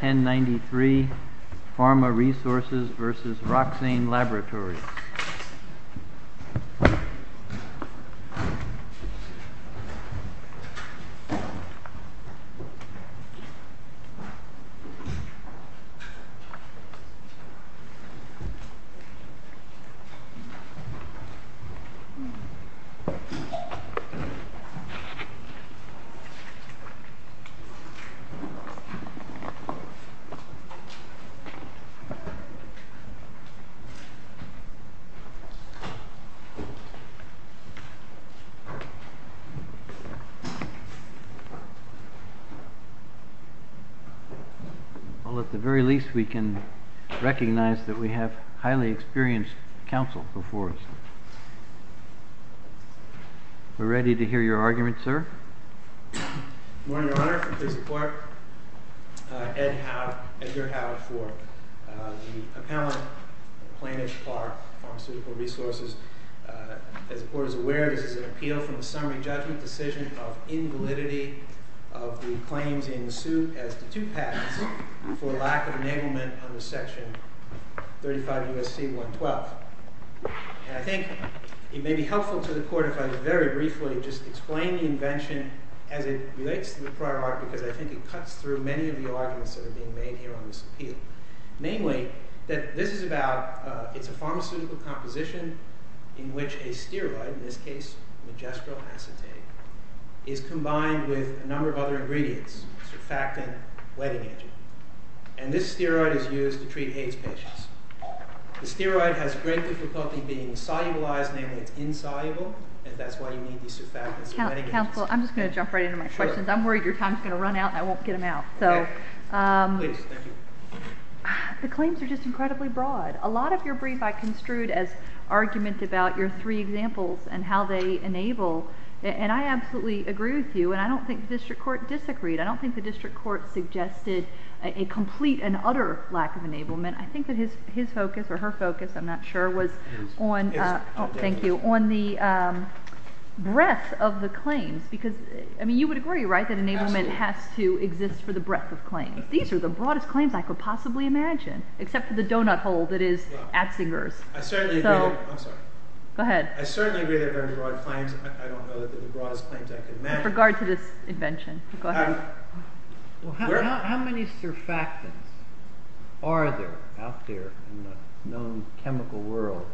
1093 Pharma Resources v. Roxane Laboratories Well, at the very least, we can recognize that we have highly experienced counsel before us. We're ready to hear your argument, sir. Good morning, Your Honor. I'm pleased to support Edgar Howard for the appellant for Plainage for Pharmaceutical Resources. As the Court is aware, this is an appeal from the summary judgment decision of invalidity of the claims in suit as to two patents for lack of enablement under Section 35 U.S.C. 112. And I think it may be helpful to the Court if I could very briefly explain the invention as it relates to the prior argument, because I think it cuts through many of the arguments that are being made here on this appeal. Namely, that this is about, it's a pharmaceutical composition in which a steroid, in this case, majestro acetate, is combined with a number of other ingredients, surfactant, wetting agent. And this steroid is used to treat AIDS patients. The steroid has great difficulty being solubilized, namely it's insoluble, and that's why you need these surfactants and wetting agents. Counsel, I'm just going to jump right into my questions. I'm worried your time is going to run out and I won't get them out. Okay. Please. Thank you. The claims are just incredibly broad. A lot of your brief I construed as argument about your three examples and how they enable. And I absolutely agree with you, and I don't think the District Court disagreed. I don't think the District Court suggested a complete and utter lack of enablement. I think that his focus, or her focus, I'm not sure, was on the breadth of the claims. I mean, you would agree, right, that enablement has to exist for the breadth of claims. These are the broadest claims I could possibly imagine, except for the donut hole that is Atzinger's. I certainly agree. I'm sorry. Go ahead. I certainly agree that there are broad claims. I don't know that they're the broadest claims I could imagine. With regard to this invention. Go ahead. How many surfactants are there out there in the known chemical world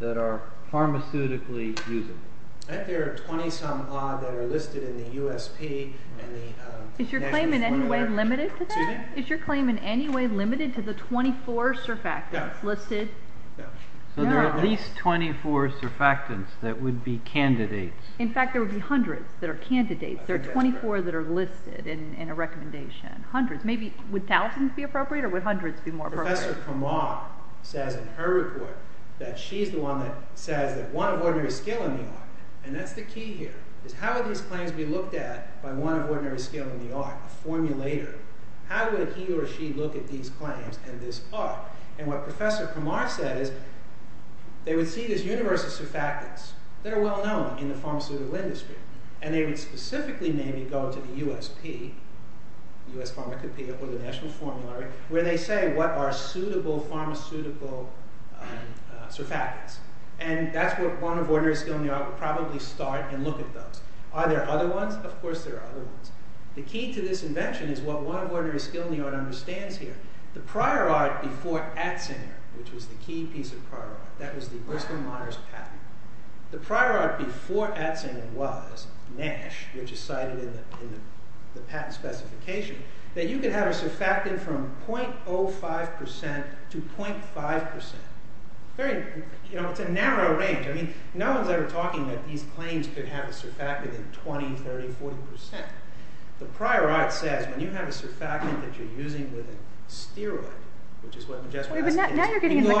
that are pharmaceutically usable? I think there are 20 some odd that are listed in the USP. Is your claim in any way limited to that? Is your claim in any way limited to the 24 surfactants listed? No. So there are at least 24 surfactants that would be candidates. In fact, there would be hundreds that are candidates. There are 24 that are listed in a recommendation. Hundreds. Maybe, would thousands be appropriate, or would hundreds be more appropriate? Professor Kumar says in her report that she's the one that says that one of ordinary skill in the art, and that's the key here, is how would these claims be looked at by one of ordinary skill in the art, a formulator? How would he or she look at these claims and this art? And what Professor Kumar said is they would see this universe of surfactants that are very well known in the pharmaceutical industry, and they would specifically maybe go to the USP, US Pharmacopeia, or the National Formulary, where they say what are suitable pharmaceutical surfactants. And that's what one of ordinary skill in the art would probably start and look at those. Are there other ones? Of course there are other ones. The key to this invention is what one of ordinary skill in the art understands here. The prior art before Atzinger, which was the key piece of prior art, that was the Bristol-Meyers patent. The prior art before Atzinger was Nash, which is cited in the patent specification, that you could have a surfactant from .05% to .5%. It's a narrow range. No one's ever talking that these claims could have a surfactant in 20, 30, 40%. The prior art says when you have a surfactant that you're using with a steroid, which is what Majestica asked, it's more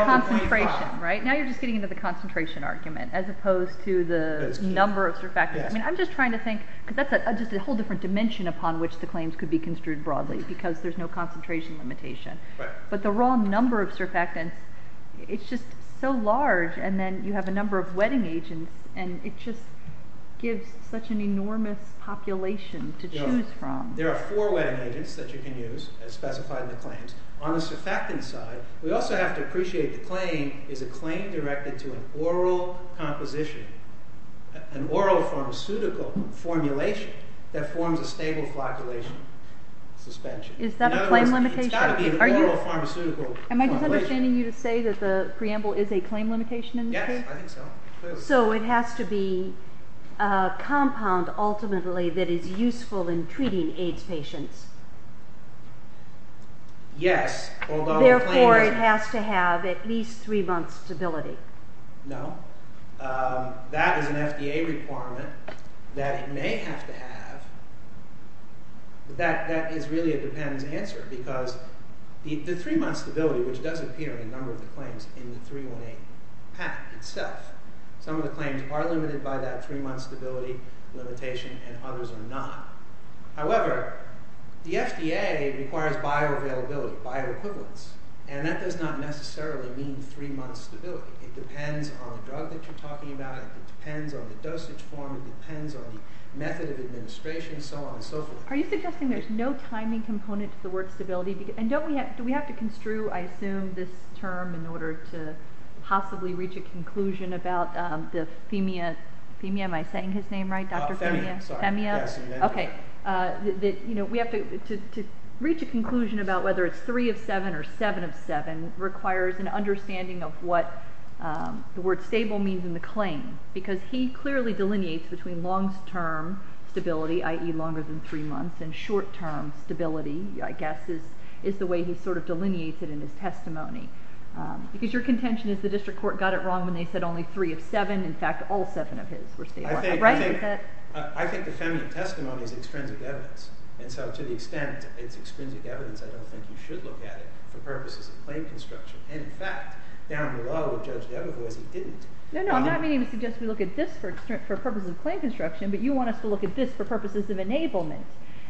than .5%. Now you're just getting into the concentration argument, as opposed to the number of surfactants. I'm just trying to think, because that's just a whole different dimension upon which the claims could be construed broadly, because there's no concentration limitation. But the raw number of surfactants, it's just so large, and then you have a number of wetting agents, and it just gives such an enormous population to choose from. There are four wetting agents that you can use, as specified in the claims. On the surfactant side, we also have to appreciate the claim is a claim directed to an oral composition, an oral pharmaceutical formulation, that forms a stable flocculation suspension. Is that a claim limitation? It's got to be an oral pharmaceutical formulation. Am I just understanding you to say that the preamble is a claim limitation in this case? Yes, I think so. So it has to be a compound, ultimately, that is useful in treating AIDS patients? Yes. Therefore, it has to have at least three months stability? No. That is an FDA requirement that it may have to have, but that is really a dependent answer, because the three months stability, which does appear in a number of the claims in the 318 pact itself. Some of the claims are limited by that three months stability limitation, and others are not. However, the FDA requires bioavailability, bioequivalence, and that does not necessarily mean three months stability. It depends on the drug that you're talking about, it depends on the dosage form, it depends on the method of administration, so on and so forth. Are you suggesting there's no timing component to the word stability? And do we have to construe, I assume, this term in order to possibly reach a conclusion about the Femia, Femia, am I saying his name right? Femia, sorry. Femia? Yes. Okay. We have to reach a conclusion about whether it's three of seven or seven of seven requires an understanding of what the word stable means in the claim, because he clearly delineates between long-term stability, i.e. longer than three months, and short-term stability, I guess, is the way he sort of delineates it in his testimony. Because your contention is the district court got it wrong when they said only three of seven, in fact, all seven of his were stable, right? I think the Femia testimony is extrinsic evidence, and so to the extent it's extrinsic evidence, I don't think you should look at it for purposes of claim construction. And in fact, down below, Judge Debo was, he didn't. No, no, I'm not meaning to suggest we look at this for purposes of claim construction, but you want us to look at this for purposes of enablement.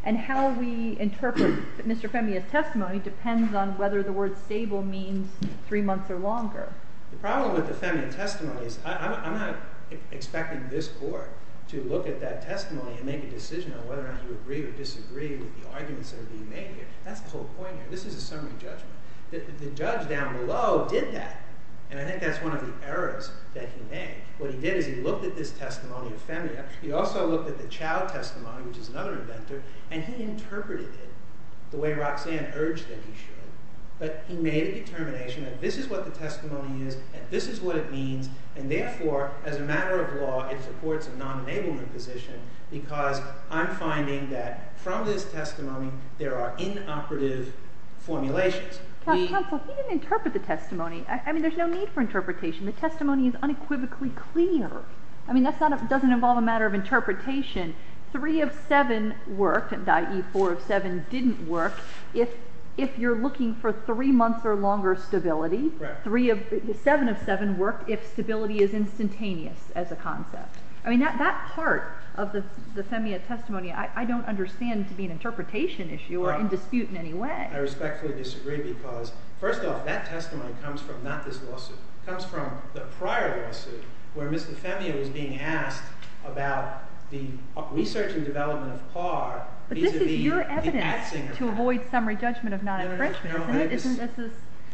And how we interpret Mr. Femia's testimony depends on whether the word stable means three months or longer. The problem with the Femia testimony is I'm not expecting this court to look at that testimony and make a decision on whether or not you agree or disagree with the arguments that are being made here. That's the whole point here. This is a summary judgment. The judge down below did that, and I think that's one of the errors that he made. What he did is he looked at this testimony of Femia. He also looked at the Chow testimony, which is another inventor, and he interpreted it the way Roxanne urged that he should. But he made a determination that this is what the testimony is, and this is what it means, and therefore as a matter of law, it supports a non-enablement position because I'm finding that from this testimony, there are inoperative formulations. Counsel, he didn't interpret the testimony. I mean, there's no need for interpretation. The testimony is unequivocally clear. I mean, that doesn't involve a matter of interpretation. 3 of 7 worked, i.e., 4 of 7 didn't work if you're looking for three months or longer stability. 7 of 7 worked if stability is instantaneous as a concept. I mean, that part of the Femia testimony I don't understand to be an interpretation issue or in dispute in any way. I respectfully disagree because, first off, that testimony comes from not this lawsuit. It comes from the prior lawsuit where Mr. Femia was being asked about the research and development of PAR vis-a-vis the axing of PAR. But this is your evidence to avoid summary judgment of non-enfranchisement, isn't it? No.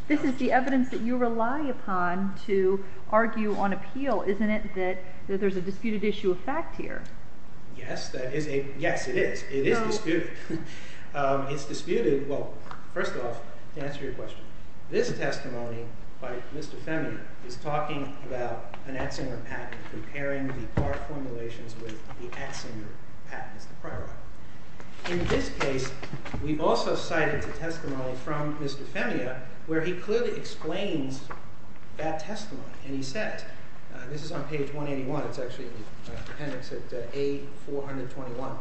This is the evidence that you rely upon to argue on appeal, isn't it, that there's a disputed issue of fact here? Yes, it is. It is disputed. It's disputed, well, first off, to answer your question, this testimony by Mr. Femia is talking about an axinger patent comparing the PAR formulations with the axinger patent. In this case, we've also cited the testimony from Mr. Femia where he clearly explains that testimony. And he said, this is on page 181, it's actually in the appendix at A421.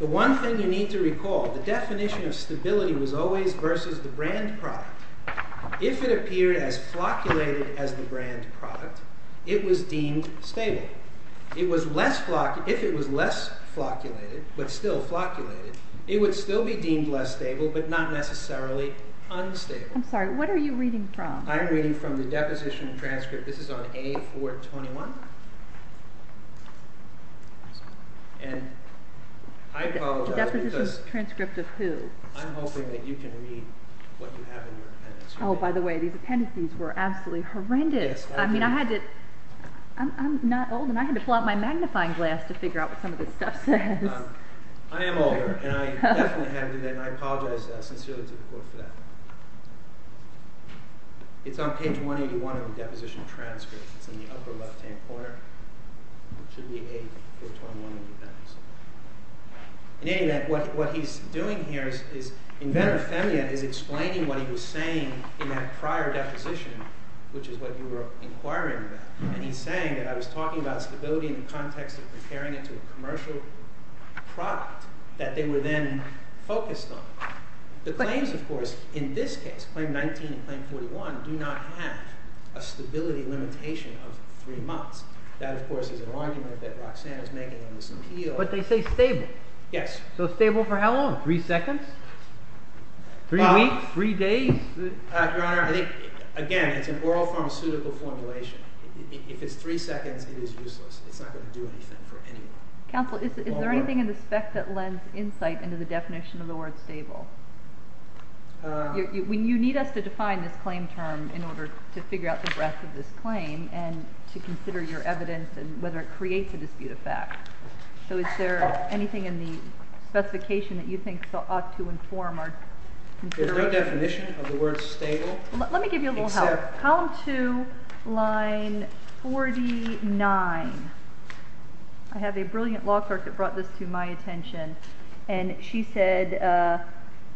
The one thing you need to recall, the definition of stability was always versus the brand product. If it appeared as flocculated as the brand product, it was deemed stable. If it was less flocculated, but still flocculated, it would still be deemed less stable, but not necessarily unstable. I'm sorry, what are you reading from? I'm reading from the deposition transcript. This is on A421. Deposition transcript of who? I'm hoping that you can read what you have in your appendix. Oh, by the way, these appendices were absolutely horrendous. I mean, I had to, I'm not old and I had to pull out my magnifying glass to figure out what some of this stuff says. I am older, and I definitely had to do that, and I apologize sincerely to the court for that. It's on page 181 of the deposition transcript. It's in the upper left-hand corner. It should be A421 in the appendix. In any event, what he's doing here is, inventor Femia is explaining what he was saying in that prior deposition, which is what you were inquiring about. And he's saying that I was The claims, of course, in this case, Claim 19 and Claim 41, do not have a stability limitation of three months. That, of course, is an argument that Roxanne is making in this appeal. But they say stable. Yes. So stable for how long? Three seconds? Three weeks? Three days? Your Honor, again, it's an oral pharmaceutical formulation. If it's three seconds, it is useless. It's not going to do anything for anyone. Counsel, is there anything in the spec that lends insight into the definition of the word stable? You need us to define this claim term in order to figure out the breadth of this claim and to consider your evidence and whether it creates a dispute of fact. So is there anything in the specification that you think ought to inform our consideration? There's no definition of the word stable. Let me give you a little help. Column 2, line 49. I have a brilliant law clerk that brought this to my attention. And she said,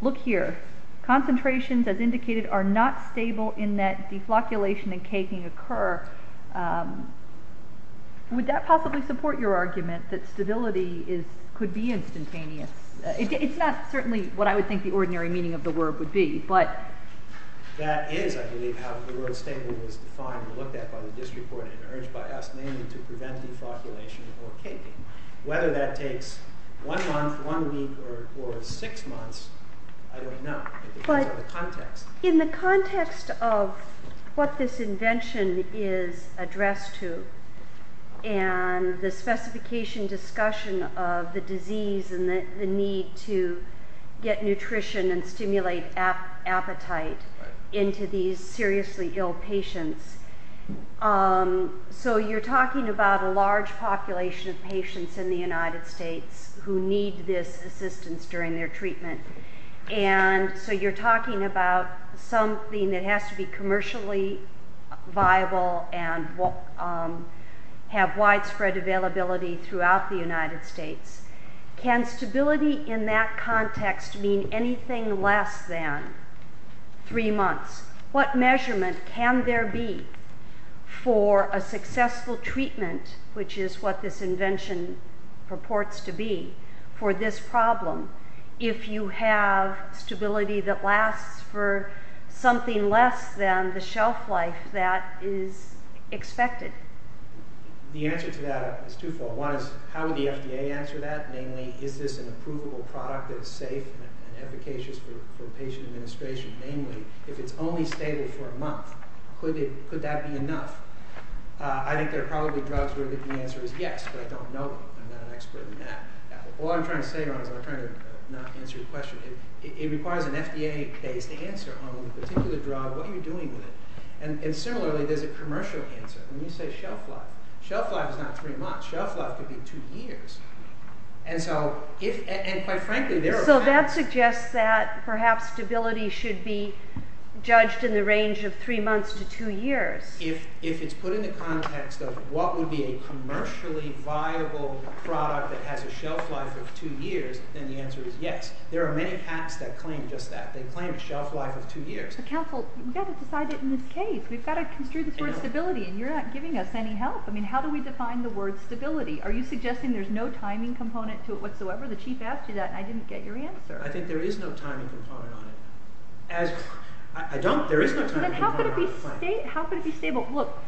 look here. Concentrations, as indicated, are not stable in that deflocculation and caking occur. Would that possibly support your argument that stability could be instantaneous? It's not certainly what I would think the ordinary meaning of the word would be. That is, I believe, how the word stable was defined and looked at by the district court and urged by us mainly to prevent deflocculation or caking. Whether that takes one month, one week, or six months, I don't know. It depends on the context. In the context of what this invention is addressed to and the specification discussion of the disease and the need to get nutrition and stimulate appetite into these seriously ill patients, so you're talking about a large population of patients in the United States who need this assistance during their treatment. And so you're talking about something that Can stability in that context mean anything less than three months? What measurement can there be for a successful treatment, which is what this invention purports to be, for this problem, if you have stability that lasts for something less than the shelf life that is expected? The answer to that is twofold. One is, how would the FDA answer that? Namely, is this an approvable product that is safe and efficacious for patient administration? Namely, if it's only stable for a month, could that be enough? I think there are probably drugs where the answer is yes, but I don't know them. I'm not an expert in that. All I'm trying to say, Ron, is I'm trying to not answer your question. It requires an FDA-based answer on the particular drug, what you're doing with it. And similarly, there's a commercial answer. When you say shelf life, shelf life is not three months. Shelf life could be two years. And quite frankly, there are patents... So that suggests that perhaps stability should be judged in the range of three months to two years. If it's put in the context of what would be a commercially viable product that has a shelf life of two years, then the answer is yes. There are many patents that claim just that. They claim a shelf life of two years. But counsel, we've got to decide it in this case. We've got to construe this word stability, and you're not giving us any help. I mean, how do we define the word stability? Are you suggesting there's no timing component to it whatsoever? The chief asked you that, and I didn't get your answer. I think there is no timing component on it. Then how could it be stable? Look,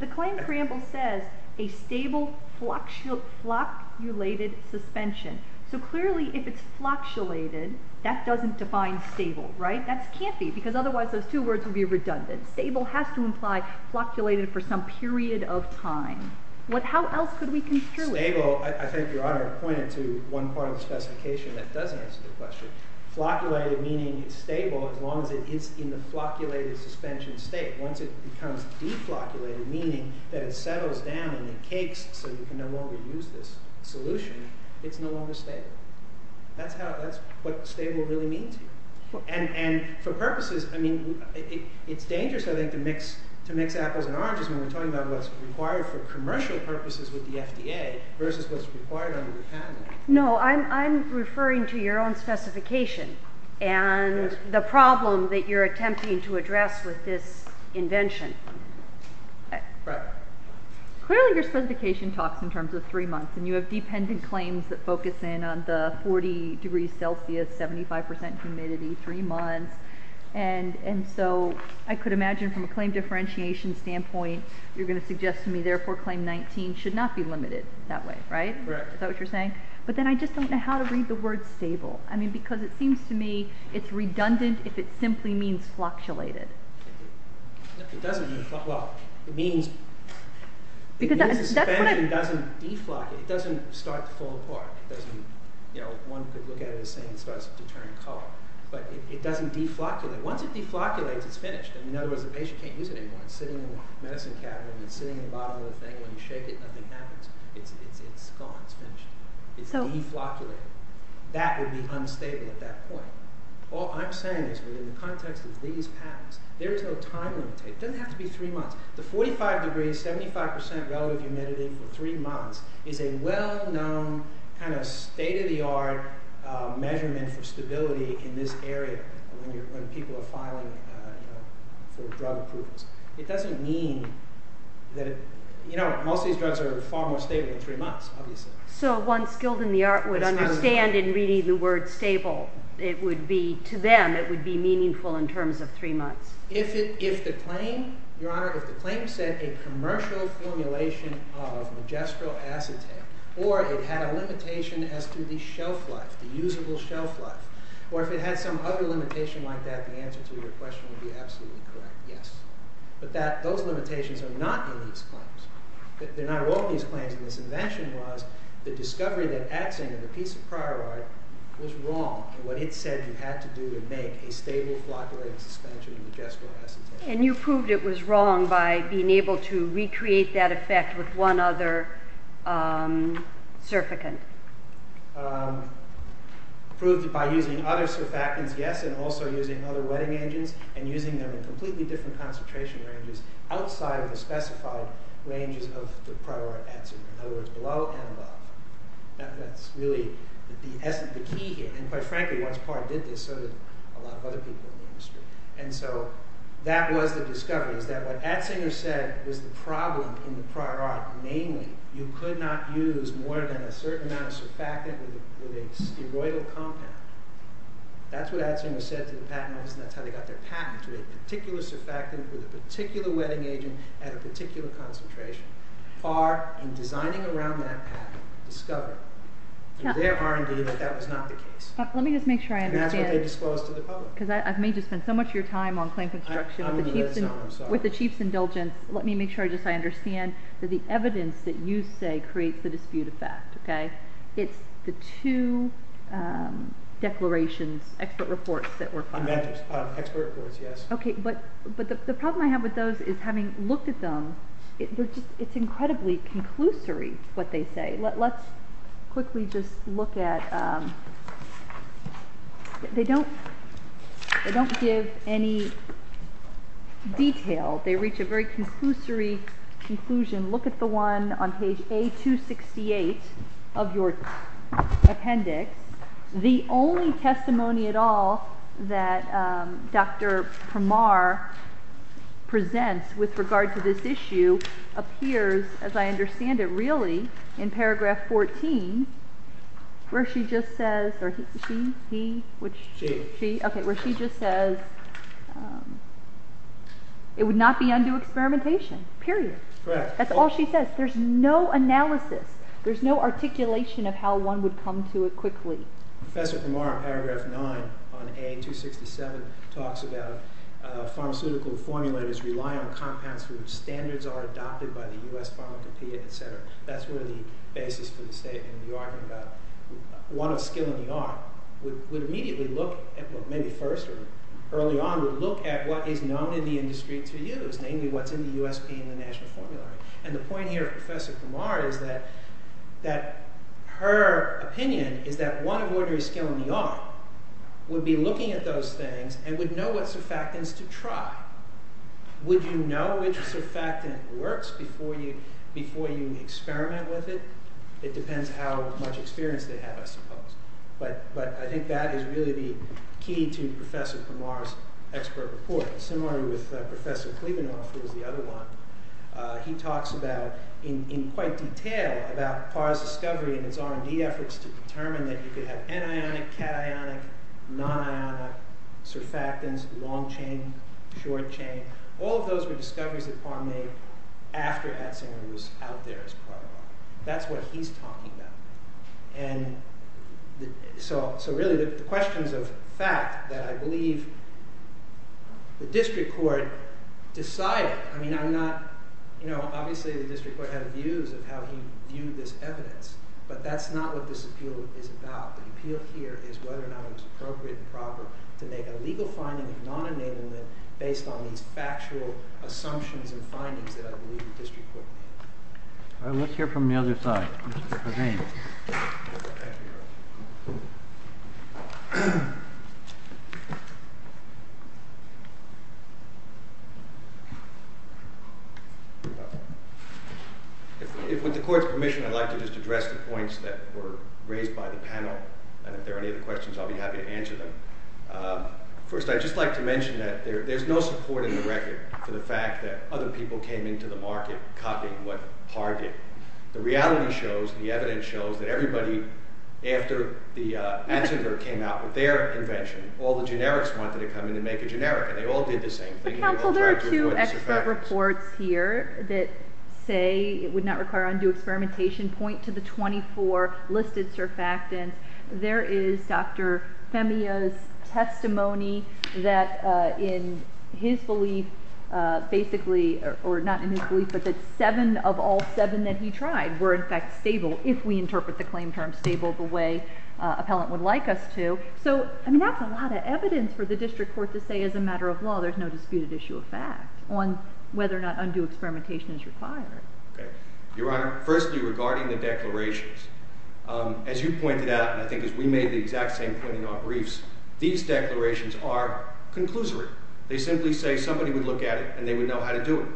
the claim cramble says a stable flocculated suspension. So clearly, if it's flocculated, that doesn't define stable, right? That can't be, because otherwise those two words would be redundant. Stable has to imply flocculated for some period of time. How else could we construe it? Stable, I think Your Honor pointed to one part of the specification that does answer the question. Flocculated meaning it's stable as long as it is in the flocculated suspension state. Once it becomes deflocculated, meaning that it settles down in the cakes so you can no longer use this solution, it's no longer stable. That's what stable really means here. And for purposes, I mean, it's dangerous, I think, to mix apples and oranges when we're talking about what's required for commercial purposes with the FDA versus what's required under the patent. No, I'm referring to your own specification and the problem that you're attempting to address with this invention. Right. Clearly, your specification talks in terms of three months, and you have dependent claims that focus in on the 40 degrees Celsius, 75% humidity, three months. And so I could imagine from a claim differentiation standpoint, you're going to suggest to me therefore claim 19 should not be limited that way, right? Correct. Is that what you're saying? But then I just don't know how to read the word stable. I mean, because it seems to me it's redundant if it simply means flocculated. It doesn't. Well, it means the suspension doesn't deflocculate. It doesn't start to fall apart. One could look at it as saying it starts to turn color. But it doesn't deflocculate. Once it deflocculates, it's finished. In other words, the patient can't use it anymore. It's sitting in the medicine cabinet. It's sitting in the bottom of the thing. When you shake it, nothing happens. It's gone. It's finished. It's deflocculated. That would be unstable at that point. All I'm saying is within the context of these patents, there is no time limit. It doesn't have to be three months. The 45 degrees, 75% relative humidity for three months is a well-known, kind of state-of-the-art measurement for stability in this area when people are filing for drug approvals. It doesn't mean that it – you know, most of these drugs are far more stable in three months, obviously. So one skilled in the art would understand in reading the word stable. To them, it would be meaningful in terms of three months. If the claim, Your Honor, if the claim said a commercial formulation of magistral acetate or it had a limitation as to the shelf life, the usable shelf life, or if it had some other limitation like that, the answer to your question would be absolutely correct, yes. But those limitations are not in these claims. They're not in all these claims. And this invention was the discovery that axanthin, the piece of prior art, was wrong in what it said you had to do to make a stable flocculating suspension of magistral acetate. And you proved it was wrong by being able to recreate that effect with one other surficant. Proved it by using other surfactants, yes, and also using other wetting engines and using them in completely different concentration ranges outside of the specified ranges of the prior art atzinger. In other words, below and above. That's really the key here. And quite frankly, once Carr did this, so did a lot of other people in the industry. And so that was the discovery, is that what atzinger said was the problem in the prior art. Namely, you could not use more than a certain amount of surfactant with a steroidal compound. That's what atzinger said to the patent office, and that's how they got their patent, to a particular surfactant with a particular wetting agent at a particular concentration. Carr, in designing around that patent, discovered through their R&D that that was not the case. Let me just make sure I understand. And that's what they disclosed to the public. Because I've made you spend so much of your time on claim construction. I'm going to let it go. I'm sorry. With the Chief's indulgence, let me make sure I just understand that the evidence that you say creates the dispute effect, okay, it's the two declarations, expert reports that were filed. Okay, but the problem I have with those is having looked at them, it's incredibly conclusory what they say. Let's quickly just look at, they don't give any detail. They reach a very conclusory conclusion. Look at the one on page A268 of your appendix. The only testimony at all that Dr. Pramar presents with regard to this issue appears, as I understand it, really in paragraph 14 where she just says, or he, she, he, which? She. Okay, where she just says, it would not be undue experimentation, period. Correct. That's all she says. There's no analysis. There's no articulation of how one would come to it quickly. Professor Pramar, paragraph 9 on A267, talks about pharmaceutical formulators rely on compounds whose standards are adopted by the U.S. pharmacopeia, etc. That's where the basis for the statement, the argument about one of skill in the art, would immediately look at, well, maybe first or early on, would look at what is known in the industry to use, namely what's in the USP and the national formula. And the point here of Professor Pramar is that, that her opinion is that one of ordinary skill in the art would be looking at those things and would know what surfactants to try. Would you know which surfactant works before you, before you experiment with it? It depends how much experience they have, I suppose. But, but I think that is really the key to Professor Pramar's expert report. Similarly with Professor Klebanoff, who was the other one, he talks about, in quite detail, about Parr's discovery and its R&D efforts to determine that you could have anionic, cationic, non-ionic surfactants, long-chain, short-chain. All of those were discoveries that Parr made after Atzinger was out there as part of R&D. That's what he's talking about. And so, so really the questions of fact that I believe the district court decided, I mean, I'm not, you know, obviously the district court had views of how he viewed this evidence, but that's not what this appeal is about. The appeal here is whether or not it was appropriate and proper to make a legal finding of non-enablement based on these factual assumptions and findings that I believe the district court made. All right, let's hear from the other side. Mr. Hussain. If, with the court's permission, I'd like to just address the points that were raised by the panel, and if there are any other questions, I'll be happy to answer them. First, I'd just like to mention that there's no support in the record for the fact that other people came into the market copying what Parr did. The reality shows, the evidence shows, that everybody after Atzinger came out with their invention, all the generics wanted to come in and make a generic, and they all did the same thing. Counsel, there are two expert reports here that say it would not require undue experimentation. Point to the 24 listed surfactants. There is Dr. Femia's testimony that in his belief, basically, or not in his belief, but that seven of all seven that he tried were in fact stable, if we interpret the claim term stable the way an appellant would like us to. So, I mean, that's a lot of evidence for the district court to say as a matter of law there's no disputed issue of fact on whether or not undue experimentation is required. Your Honor, firstly, regarding the declarations, as you pointed out, and I think as we made the exact same point in our briefs, these declarations are conclusory. They simply say somebody would look at it and they would know how to do it.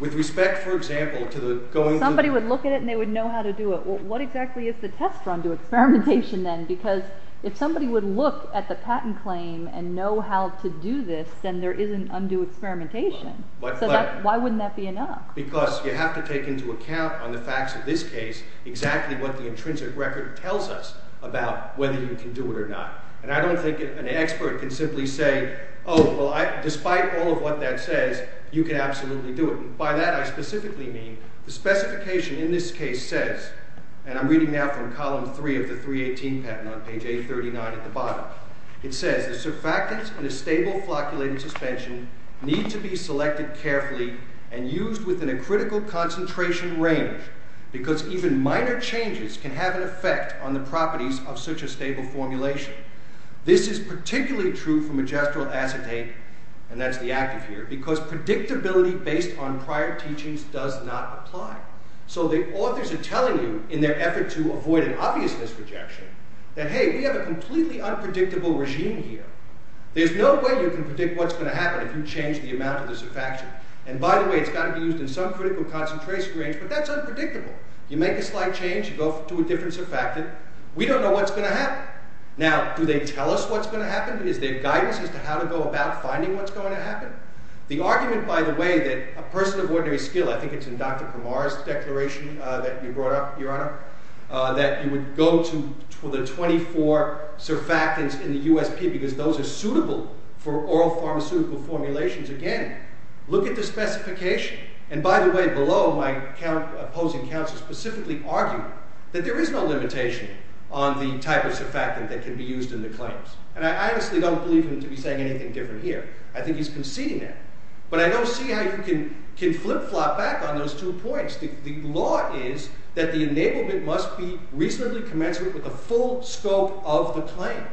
With respect, for example, to the going to the... Somebody would look at it and they would know how to do it. Well, what exactly is the test for undue experimentation then? Because if somebody would look at the patent claim and know how to do this, then there isn't undue experimentation. So why wouldn't that be enough? Because you have to take into account on the facts of this case exactly what the intrinsic record tells us about whether you can do it or not. And I don't think an expert can simply say, oh, well, despite all of what that says, you can absolutely do it. And by that I specifically mean the specification in this case says, and I'm reading now from column three of the 318 patent on page 839 at the bottom, it says, the surfactants in a stable flocculated suspension need to be selected carefully and used within a critical concentration range because even minor changes can have an effect on the properties of such a stable formulation. This is particularly true for majestural acetate, and that's the active here, because predictability based on prior teachings does not apply. So the authors are telling you, in their effort to avoid an obvious misrejection, that hey, we have a completely unpredictable regime here. There's no way you can predict what's going to happen if you change the amount of the surfactant. And by the way, it's got to be used in some critical concentration range, but that's unpredictable. You make a slight change, you go to a different surfactant, we don't know what's going to happen. Now, do they tell us what's going to happen? Is there guidance as to how to go about finding what's going to happen? The argument, by the way, that a person of ordinary skill, I think it's in Dr. Kumar's declaration that you brought up, Your Honor, that you would go to the 24 surfactants in the USP because those are suitable for oral pharmaceutical formulations, again, look at the specification. And by the way, below, my opposing counsel specifically argued that there is no limitation on the type of surfactant that can be used in the claims. And I honestly don't believe him to be saying anything different here. I think he's conceding that. But I don't see how you can flip-flop back on those two points. The law is that the enablement must be reasonably commensurate with the full scope of the claim.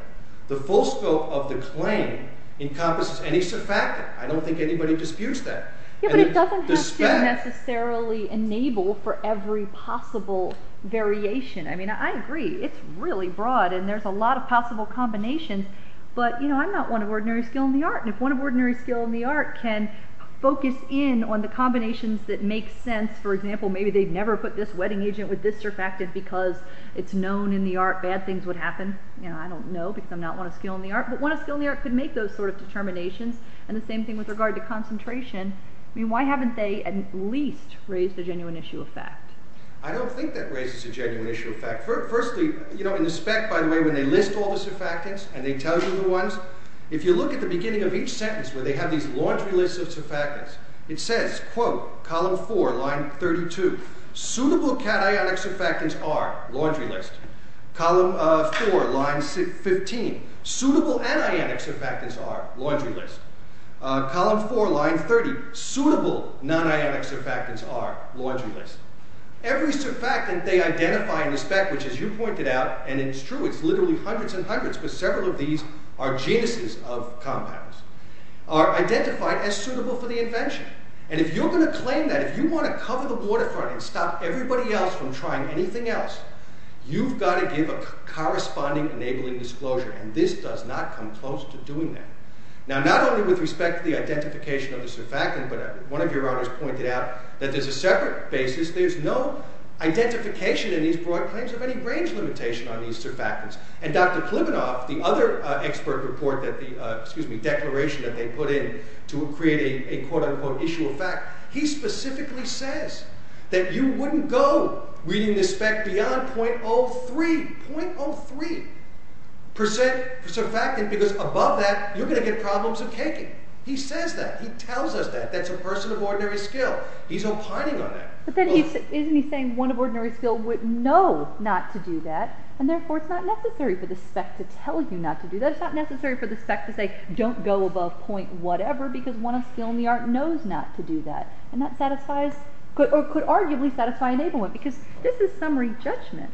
The full scope of the claim encompasses any surfactant. I don't think anybody disputes that. Yeah, but it doesn't have to necessarily enable for every possible variation. I mean, I agree. It's really broad, and there's a lot of possible combinations, but, you know, I'm not one of ordinary skill in the art. And if one of ordinary skill in the art can focus in on the combinations that make sense, for example, maybe they've never put this wetting agent with this surfactant because it's known in the art bad things would happen, I don't know, because I'm not one of skill in the art. But one of skill in the art could make those sort of determinations. And the same thing with regard to concentration. I mean, why haven't they at least raised a genuine issue of fact? I don't think that raises a genuine issue of fact. Firstly, you know, in the spec, by the way, when they list all the surfactants, and they tell you the ones, if you look at the beginning of each sentence where they have these laundry lists of surfactants, it says, quote, column 4, line 32, suitable cationic surfactants are, laundry list. Column 4, line 15, suitable anionic surfactants are, laundry list. Column 4, line 30, suitable non-ionic surfactants are, laundry list. Every surfactant they identify in the spec, which, as you pointed out, and it's true, it's literally hundreds and hundreds, but several of these are genuses of compounds, are identified as suitable for the invention. And if you're going to claim that, if you want to cover the waterfront and stop everybody else from trying anything else, you've got to give a corresponding enabling disclosure. And this does not come close to doing that. Now, not only with respect to the identification of the surfactant, but one of your authors pointed out that there's a separate basis. There's no identification in these broad claims of any range limitation on these surfactants. And Dr. Klimanoff, the other expert report that the, excuse me, declaration that they put in to create a quote-unquote issue of fact, he specifically says that you wouldn't go reading the spec beyond .03, .03 percent surfactant, because above that you're going to get problems of caking. He says that. He tells us that. That's a person of ordinary skill. He's opining on that. But then isn't he saying one of ordinary skill would know not to do that and therefore it's not necessary for the spec to tell you not to do that. It's not necessary for the spec to say, don't go above point whatever, because one of skill in the art knows not to do that. And that satisfies or could arguably satisfy enabling, because this is summary judgment.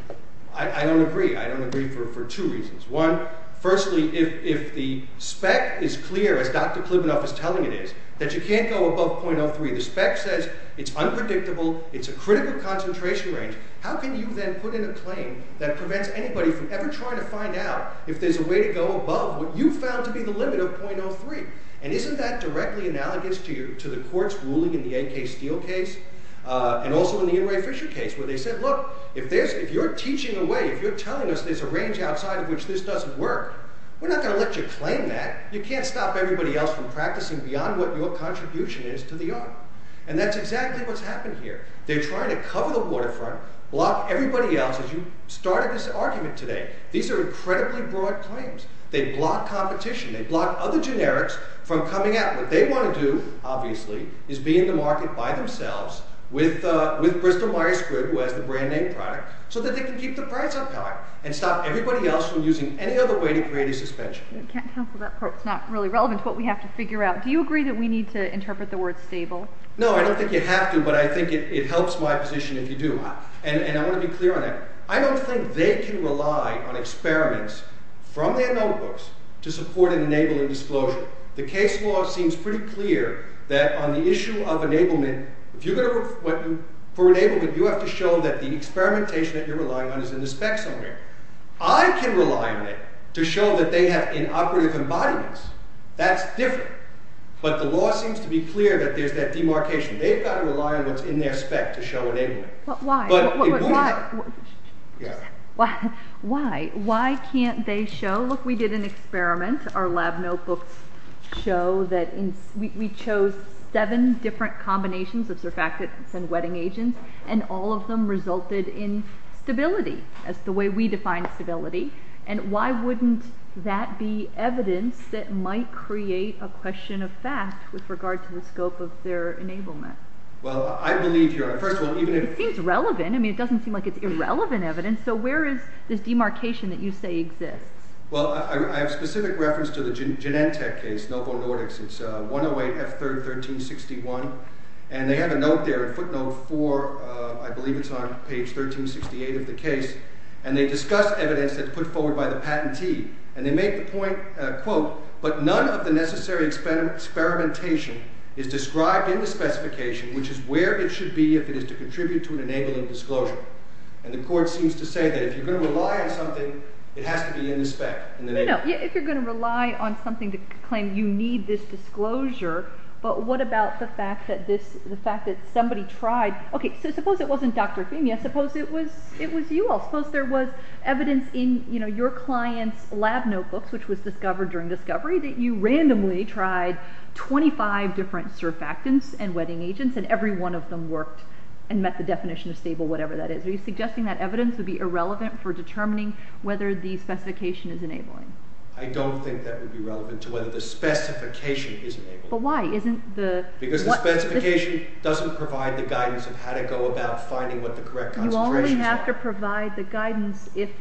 I don't agree. I don't agree for two reasons. One, firstly, if the spec is clear, as Dr. Klimanoff is telling it is, that you can't go above .03. The spec says it's unpredictable. It's a critical concentration range. How can you then put in a claim that prevents anybody from ever trying to find out if there's a way to go above what you found to be the limit of .03? And isn't that directly analogous to the court's ruling in the A.K. Steele case? And also in the Inouye Fisher case, where they said, look, if you're teaching away, if you're telling us there's a range outside of which this doesn't work, we're not going to let you claim that. You can't stop everybody else from practicing beyond what your contribution is to the art. And that's exactly what's happened here. They're trying to cover the waterfront, block everybody else, as you started this argument today. These are incredibly broad claims. They block competition. They block other generics from coming out. What they want to do, obviously, is be in the market by themselves with Bristol Myers Good, who has the brand name product, so that they can keep the price up high and stop everybody else from using any other way to create a suspension. You can't cancel that part. It's not really relevant to what we have to figure out. Do you agree that we need to interpret the word stable? No, I don't think you have to, but I think it helps my position if you do. And I want to be clear on that. I don't think they can rely on experiments from their notebooks to support and enable a disclosure. The case law seems pretty clear that on the issue of enablement, for enablement, you have to show that the experimentation that you're relying on is in the specs only. I can rely on it to show that they have inoperative embodiments. That's different. But the law seems to be clear that there's that demarcation. They've got to rely on what's in their spec to show enablement. But why? Why? Why can't they show? Look, we did an experiment. Our lab notebooks show that we chose seven different combinations of surfactants and wetting agents and all of them resulted in stability, as the way we define stability, and why wouldn't that be evidence that might create a question of fact with regard to the scope of their enablement? Well, I believe you're right. First of all, even if... It seems relevant. I mean, it doesn't seem like it's irrelevant evidence. So where is this demarcation that you say exists? Well, I have specific reference to the Genentech case, Novo Nordics. It's 108 F3rd 1361, and they have a note there, a footnote for I believe it's on page 1368 of the case, and they discuss evidence that's put forward by the patentee, and they make the point, quote, but none of the necessary experimentation is described in the specification, which is where it should be if it is to contribute to an enabling disclosure. And the court seems to say that if you're going to rely on something, it has to be in the spec. If you're going to rely on something to claim you need this disclosure, but what about the fact that somebody tried... Okay, so suppose it wasn't Dr. Femia. Suppose it was you all. Suppose there was evidence in your client's lab notebooks which was discovered during discovery, that you randomly tried 25 different surfactants and wetting agents, and every one of them worked and met the definition of stable, whatever that is. Are you suggesting that evidence would be irrelevant for determining whether the specification is enabling? I don't think that would be relevant to whether the specification is enabling. But why? Isn't the... Because the specification doesn't provide the guidance of how to go about finding what the correct concentrations are. You only have to provide the guidance if...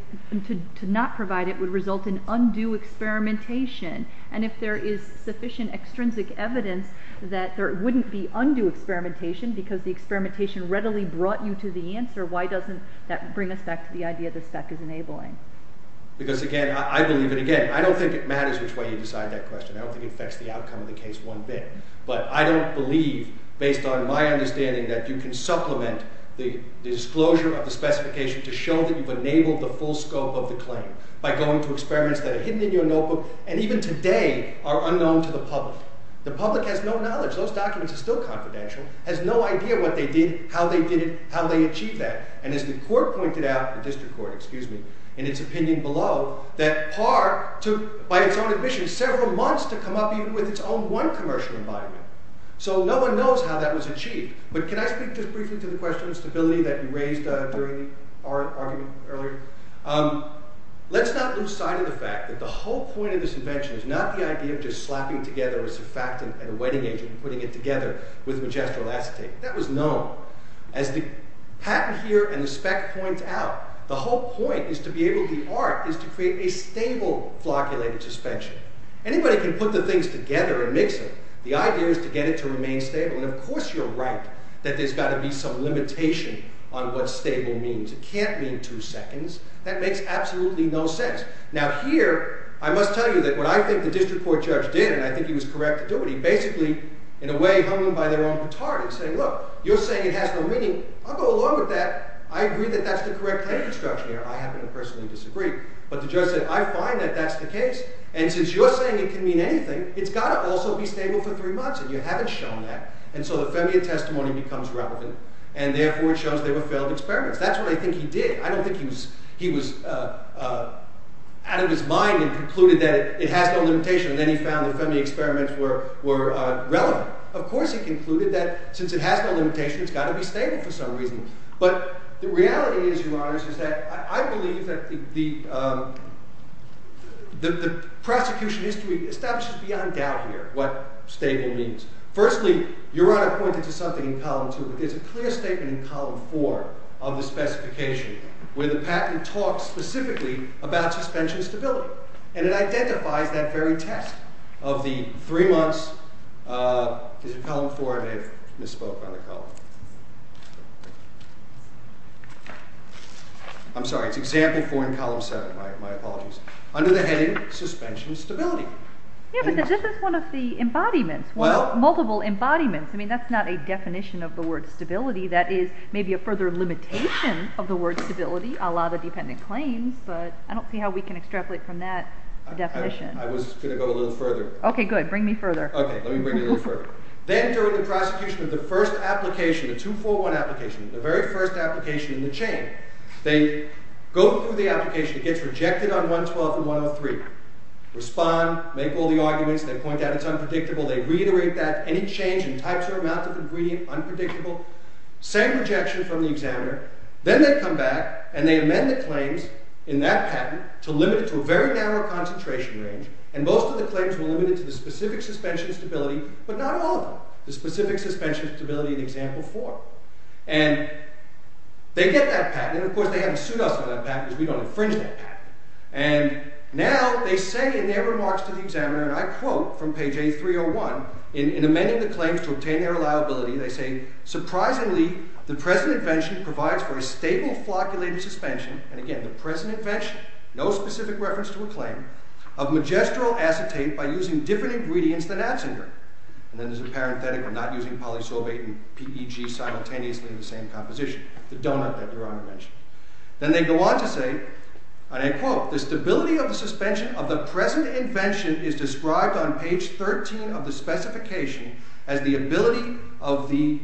to not provide it would result in undue experimentation. And if there is sufficient extrinsic evidence that there wouldn't be undue experimentation, because the experimentation readily brought you to the answer, why doesn't that bring us back to the idea that spec is enabling? Because again, I believe it again. I don't think it matters which way you decide that question. I don't think it affects the outcome of the case one bit. But I don't believe, based on my understanding that you can supplement the disclosure of the specification to show that you've enabled the full scope of the claim by going to experiments that are hidden in your notebook and even today are unknown to the public. The public has no knowledge. Those documents are still confidential. Has no idea what they did, how they did it, how they achieved that. And as the court pointed out, the district court, excuse me, in its opinion below, that PAR took, by its own admission, several months to come up even with its own one commercial environment. So no one knows how that was achieved. But can I speak just briefly to the question of stability that you raised during the argument earlier? Let's not lose sight of the fact that the whole point of this invention is not the idea of just slapping together a surfactant and a wetting agent and putting it together with majestural acetate. That was known. As the patent here and the spec point out, the whole point is to be able, the art is to create a stable flocculated suspension. Anybody can put the things together and stay stable. And of course you're right that there's got to be some limitation on what stable means. It can't mean two seconds. That makes absolutely no sense. Now here, I must tell you that what I think the district court judge did and I think he was correct to do it, he basically in a way hung them by their own batard and said, look, you're saying it has no meaning. I'll go along with that. I agree that that's the correct claim construction here. I happen to personally disagree. But the judge said, I find that that's the case. And since you're saying it can mean anything, it's got to also be stable for three months. And you haven't shown that. And so the FEMIA testimony becomes relevant and therefore it shows they were failed experiments. That's what I think he did. I don't think he was out of his mind and concluded that it has no limitation and then he found the FEMIA experiments were relevant. Of course he concluded that since it has no limitation, it's got to be stable for some reason. But the reality is, Your Honors, is that I believe that the prosecution history establishes beyond doubt here what stable means. Firstly, Your Honor pointed to something in column two, but there's a clear statement in column four of the specification where the patent talks specifically about suspension stability. And it identifies that very test of the three months uh, is it column four? I may have misspoke on the column. I'm sorry. It's example four in column seven. My apologies. Under the heading, suspension stability. Yeah, but this is one of the embodiments, multiple embodiments. I mean, that's not a definition of the word stability. That is maybe a further limitation of the word stability. A lot of dependent claims, but I don't see how we can extrapolate from that definition. I was going to go a little further. Okay, good. Bring me further. Okay. Let me bring you a little further. Then during the prosecution of the first application, the 241 application, the very first application in the chain, they go through the application. It gets rejected on 112 and 103. Respond. Make all the arguments. They point out it's unpredictable. They reiterate that. Any change in types or amounts of ingredient, unpredictable. Same rejection from the examiner. Then they come back and they amend the claims in that patent to limit it to a very narrow concentration range, and most of the claims were limited to the specific suspension stability, but not all of them. The specific suspension stability in example four. And they get that patent, and of course they have a suit us on that patent because we don't infringe that patent. And now they say in their remarks to the examiner, and I quote from page A301, in amending the claims to obtain their liability, they say, surprisingly, the present invention provides for a stable flocculated suspension, and again, the present invention, no specific reference to a claim, of magestral acetate by using different ingredients than atzinger. And then there's a parenthetical, not using polysorbate and PEG simultaneously in the same composition. The donut that Your Honor mentioned. Then they go on to say, and I quote, the stability of the suspension of the present invention is described on page 13 of the specification as the ability of the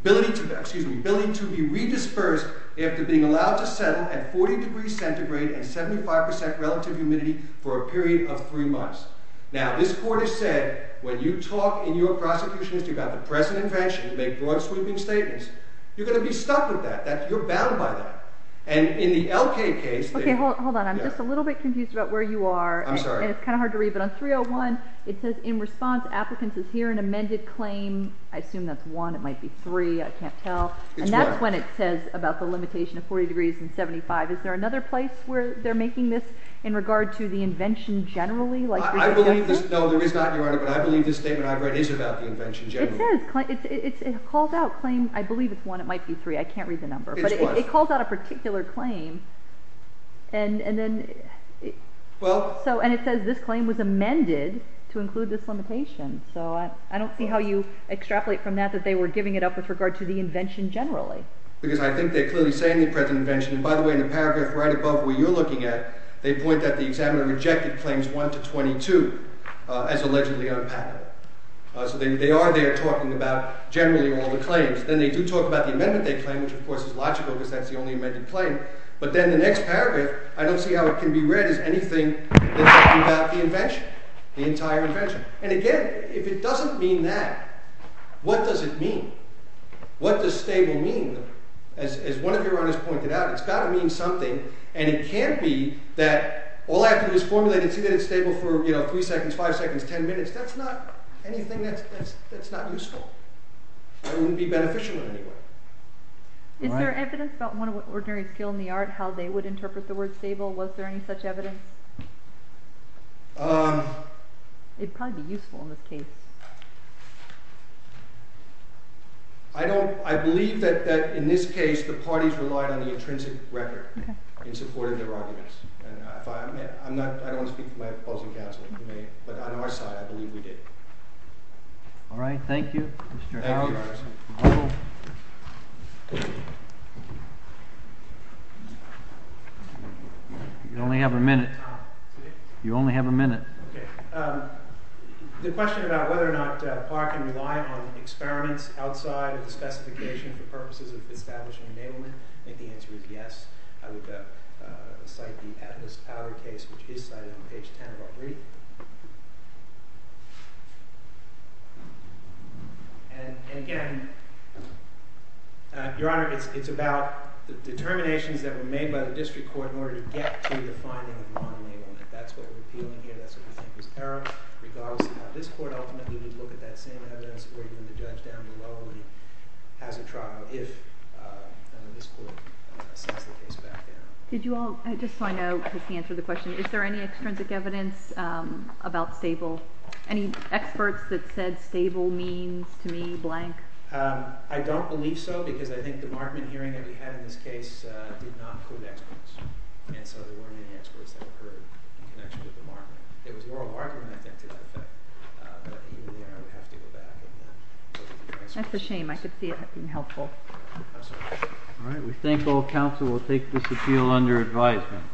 ability to, excuse me, ability to be redispersed after being allowed to settle at 40 degrees centigrade and 75% relative humidity for a period of three months. Now this court has said, when you talk in your prosecution as to whether the present invention makes broad sweeping statements, you're going to be stuck with that. You're bound by that. And in the L.K. case, Okay, hold on. I'm just a little bit confused about where you are. I'm sorry. And it's kind of hard to read, but on 301, it says, in response applicants is here, an amended claim, I assume that's one, it might be three, I can't tell, and that's when it says about the limitation of 40 degrees and 75. Is there another place where they're making this in regard to the invention generally? I believe this, no, there is not, Your Honor, but I believe this statement I've read is about the invention generally. It says, it calls out claim, I believe it's one, it might be three, I can't read the number, but it calls out a particular claim and then and it says this claim was amended to include this limitation so I don't see how you extrapolate from that that they were giving it up with regard to the invention generally. Because I think they clearly say in the present invention, and by the way in the paragraph right above where you're looking at, they point that the examiner rejected claims 1 to 22 as they are there talking about generally all the claims. Then they do talk about the amendment they claim, which of course is logical because that's the only amended claim, but then the next paragraph I don't see how it can be read as anything that's talking about the invention. The entire invention. And again, if it doesn't mean that, what does it mean? What does stable mean? As one of Your Honors pointed out, it's got to mean something, and it can't be that all I have to do is formulate and see that it's stable for, you know, three seconds, five seconds, ten minutes. That's not anything that's not useful. It wouldn't be beneficial in any way. Is there evidence about ordinary skill in the art how they would interpret the word stable? Was there any such evidence? It'd probably be useful in this case. I believe that in this case the parties relied on the intrinsic record in supporting their arguments. I don't want to speak for my opposing counsel, but on our side I believe we did. All right, thank you. You only have a minute. You only have a minute. The question about whether or not PAR can rely on experiments outside of the specification for purposes of establishing enablement, I think the answer is yes. I would cite the Atlas Power case, which is cited on page 10 of our brief. And again, Your Honor, it's about the determinations that were made by the district court in order to get to the finding of non-enablement. That's what we're appealing here. That's what we think is error, regardless of how this court ultimately would look at that same evidence or even the judge down below has a trial if this court sets the case back down. Did you all, just so I know, is there any extrinsic evidence about stable? Any experts that said stable means to me blank? I don't believe so, because I think the Markman hearing that we had in this case did not include experts. And so there weren't any experts that occurred in connection with the Markman. There was oral argument I think to that effect, but even there I would have to go back and look at the records. That's a shame. I could see it being helpful. I'm sorry. All right. We thank all counsel. We'll take this appeal under advisement.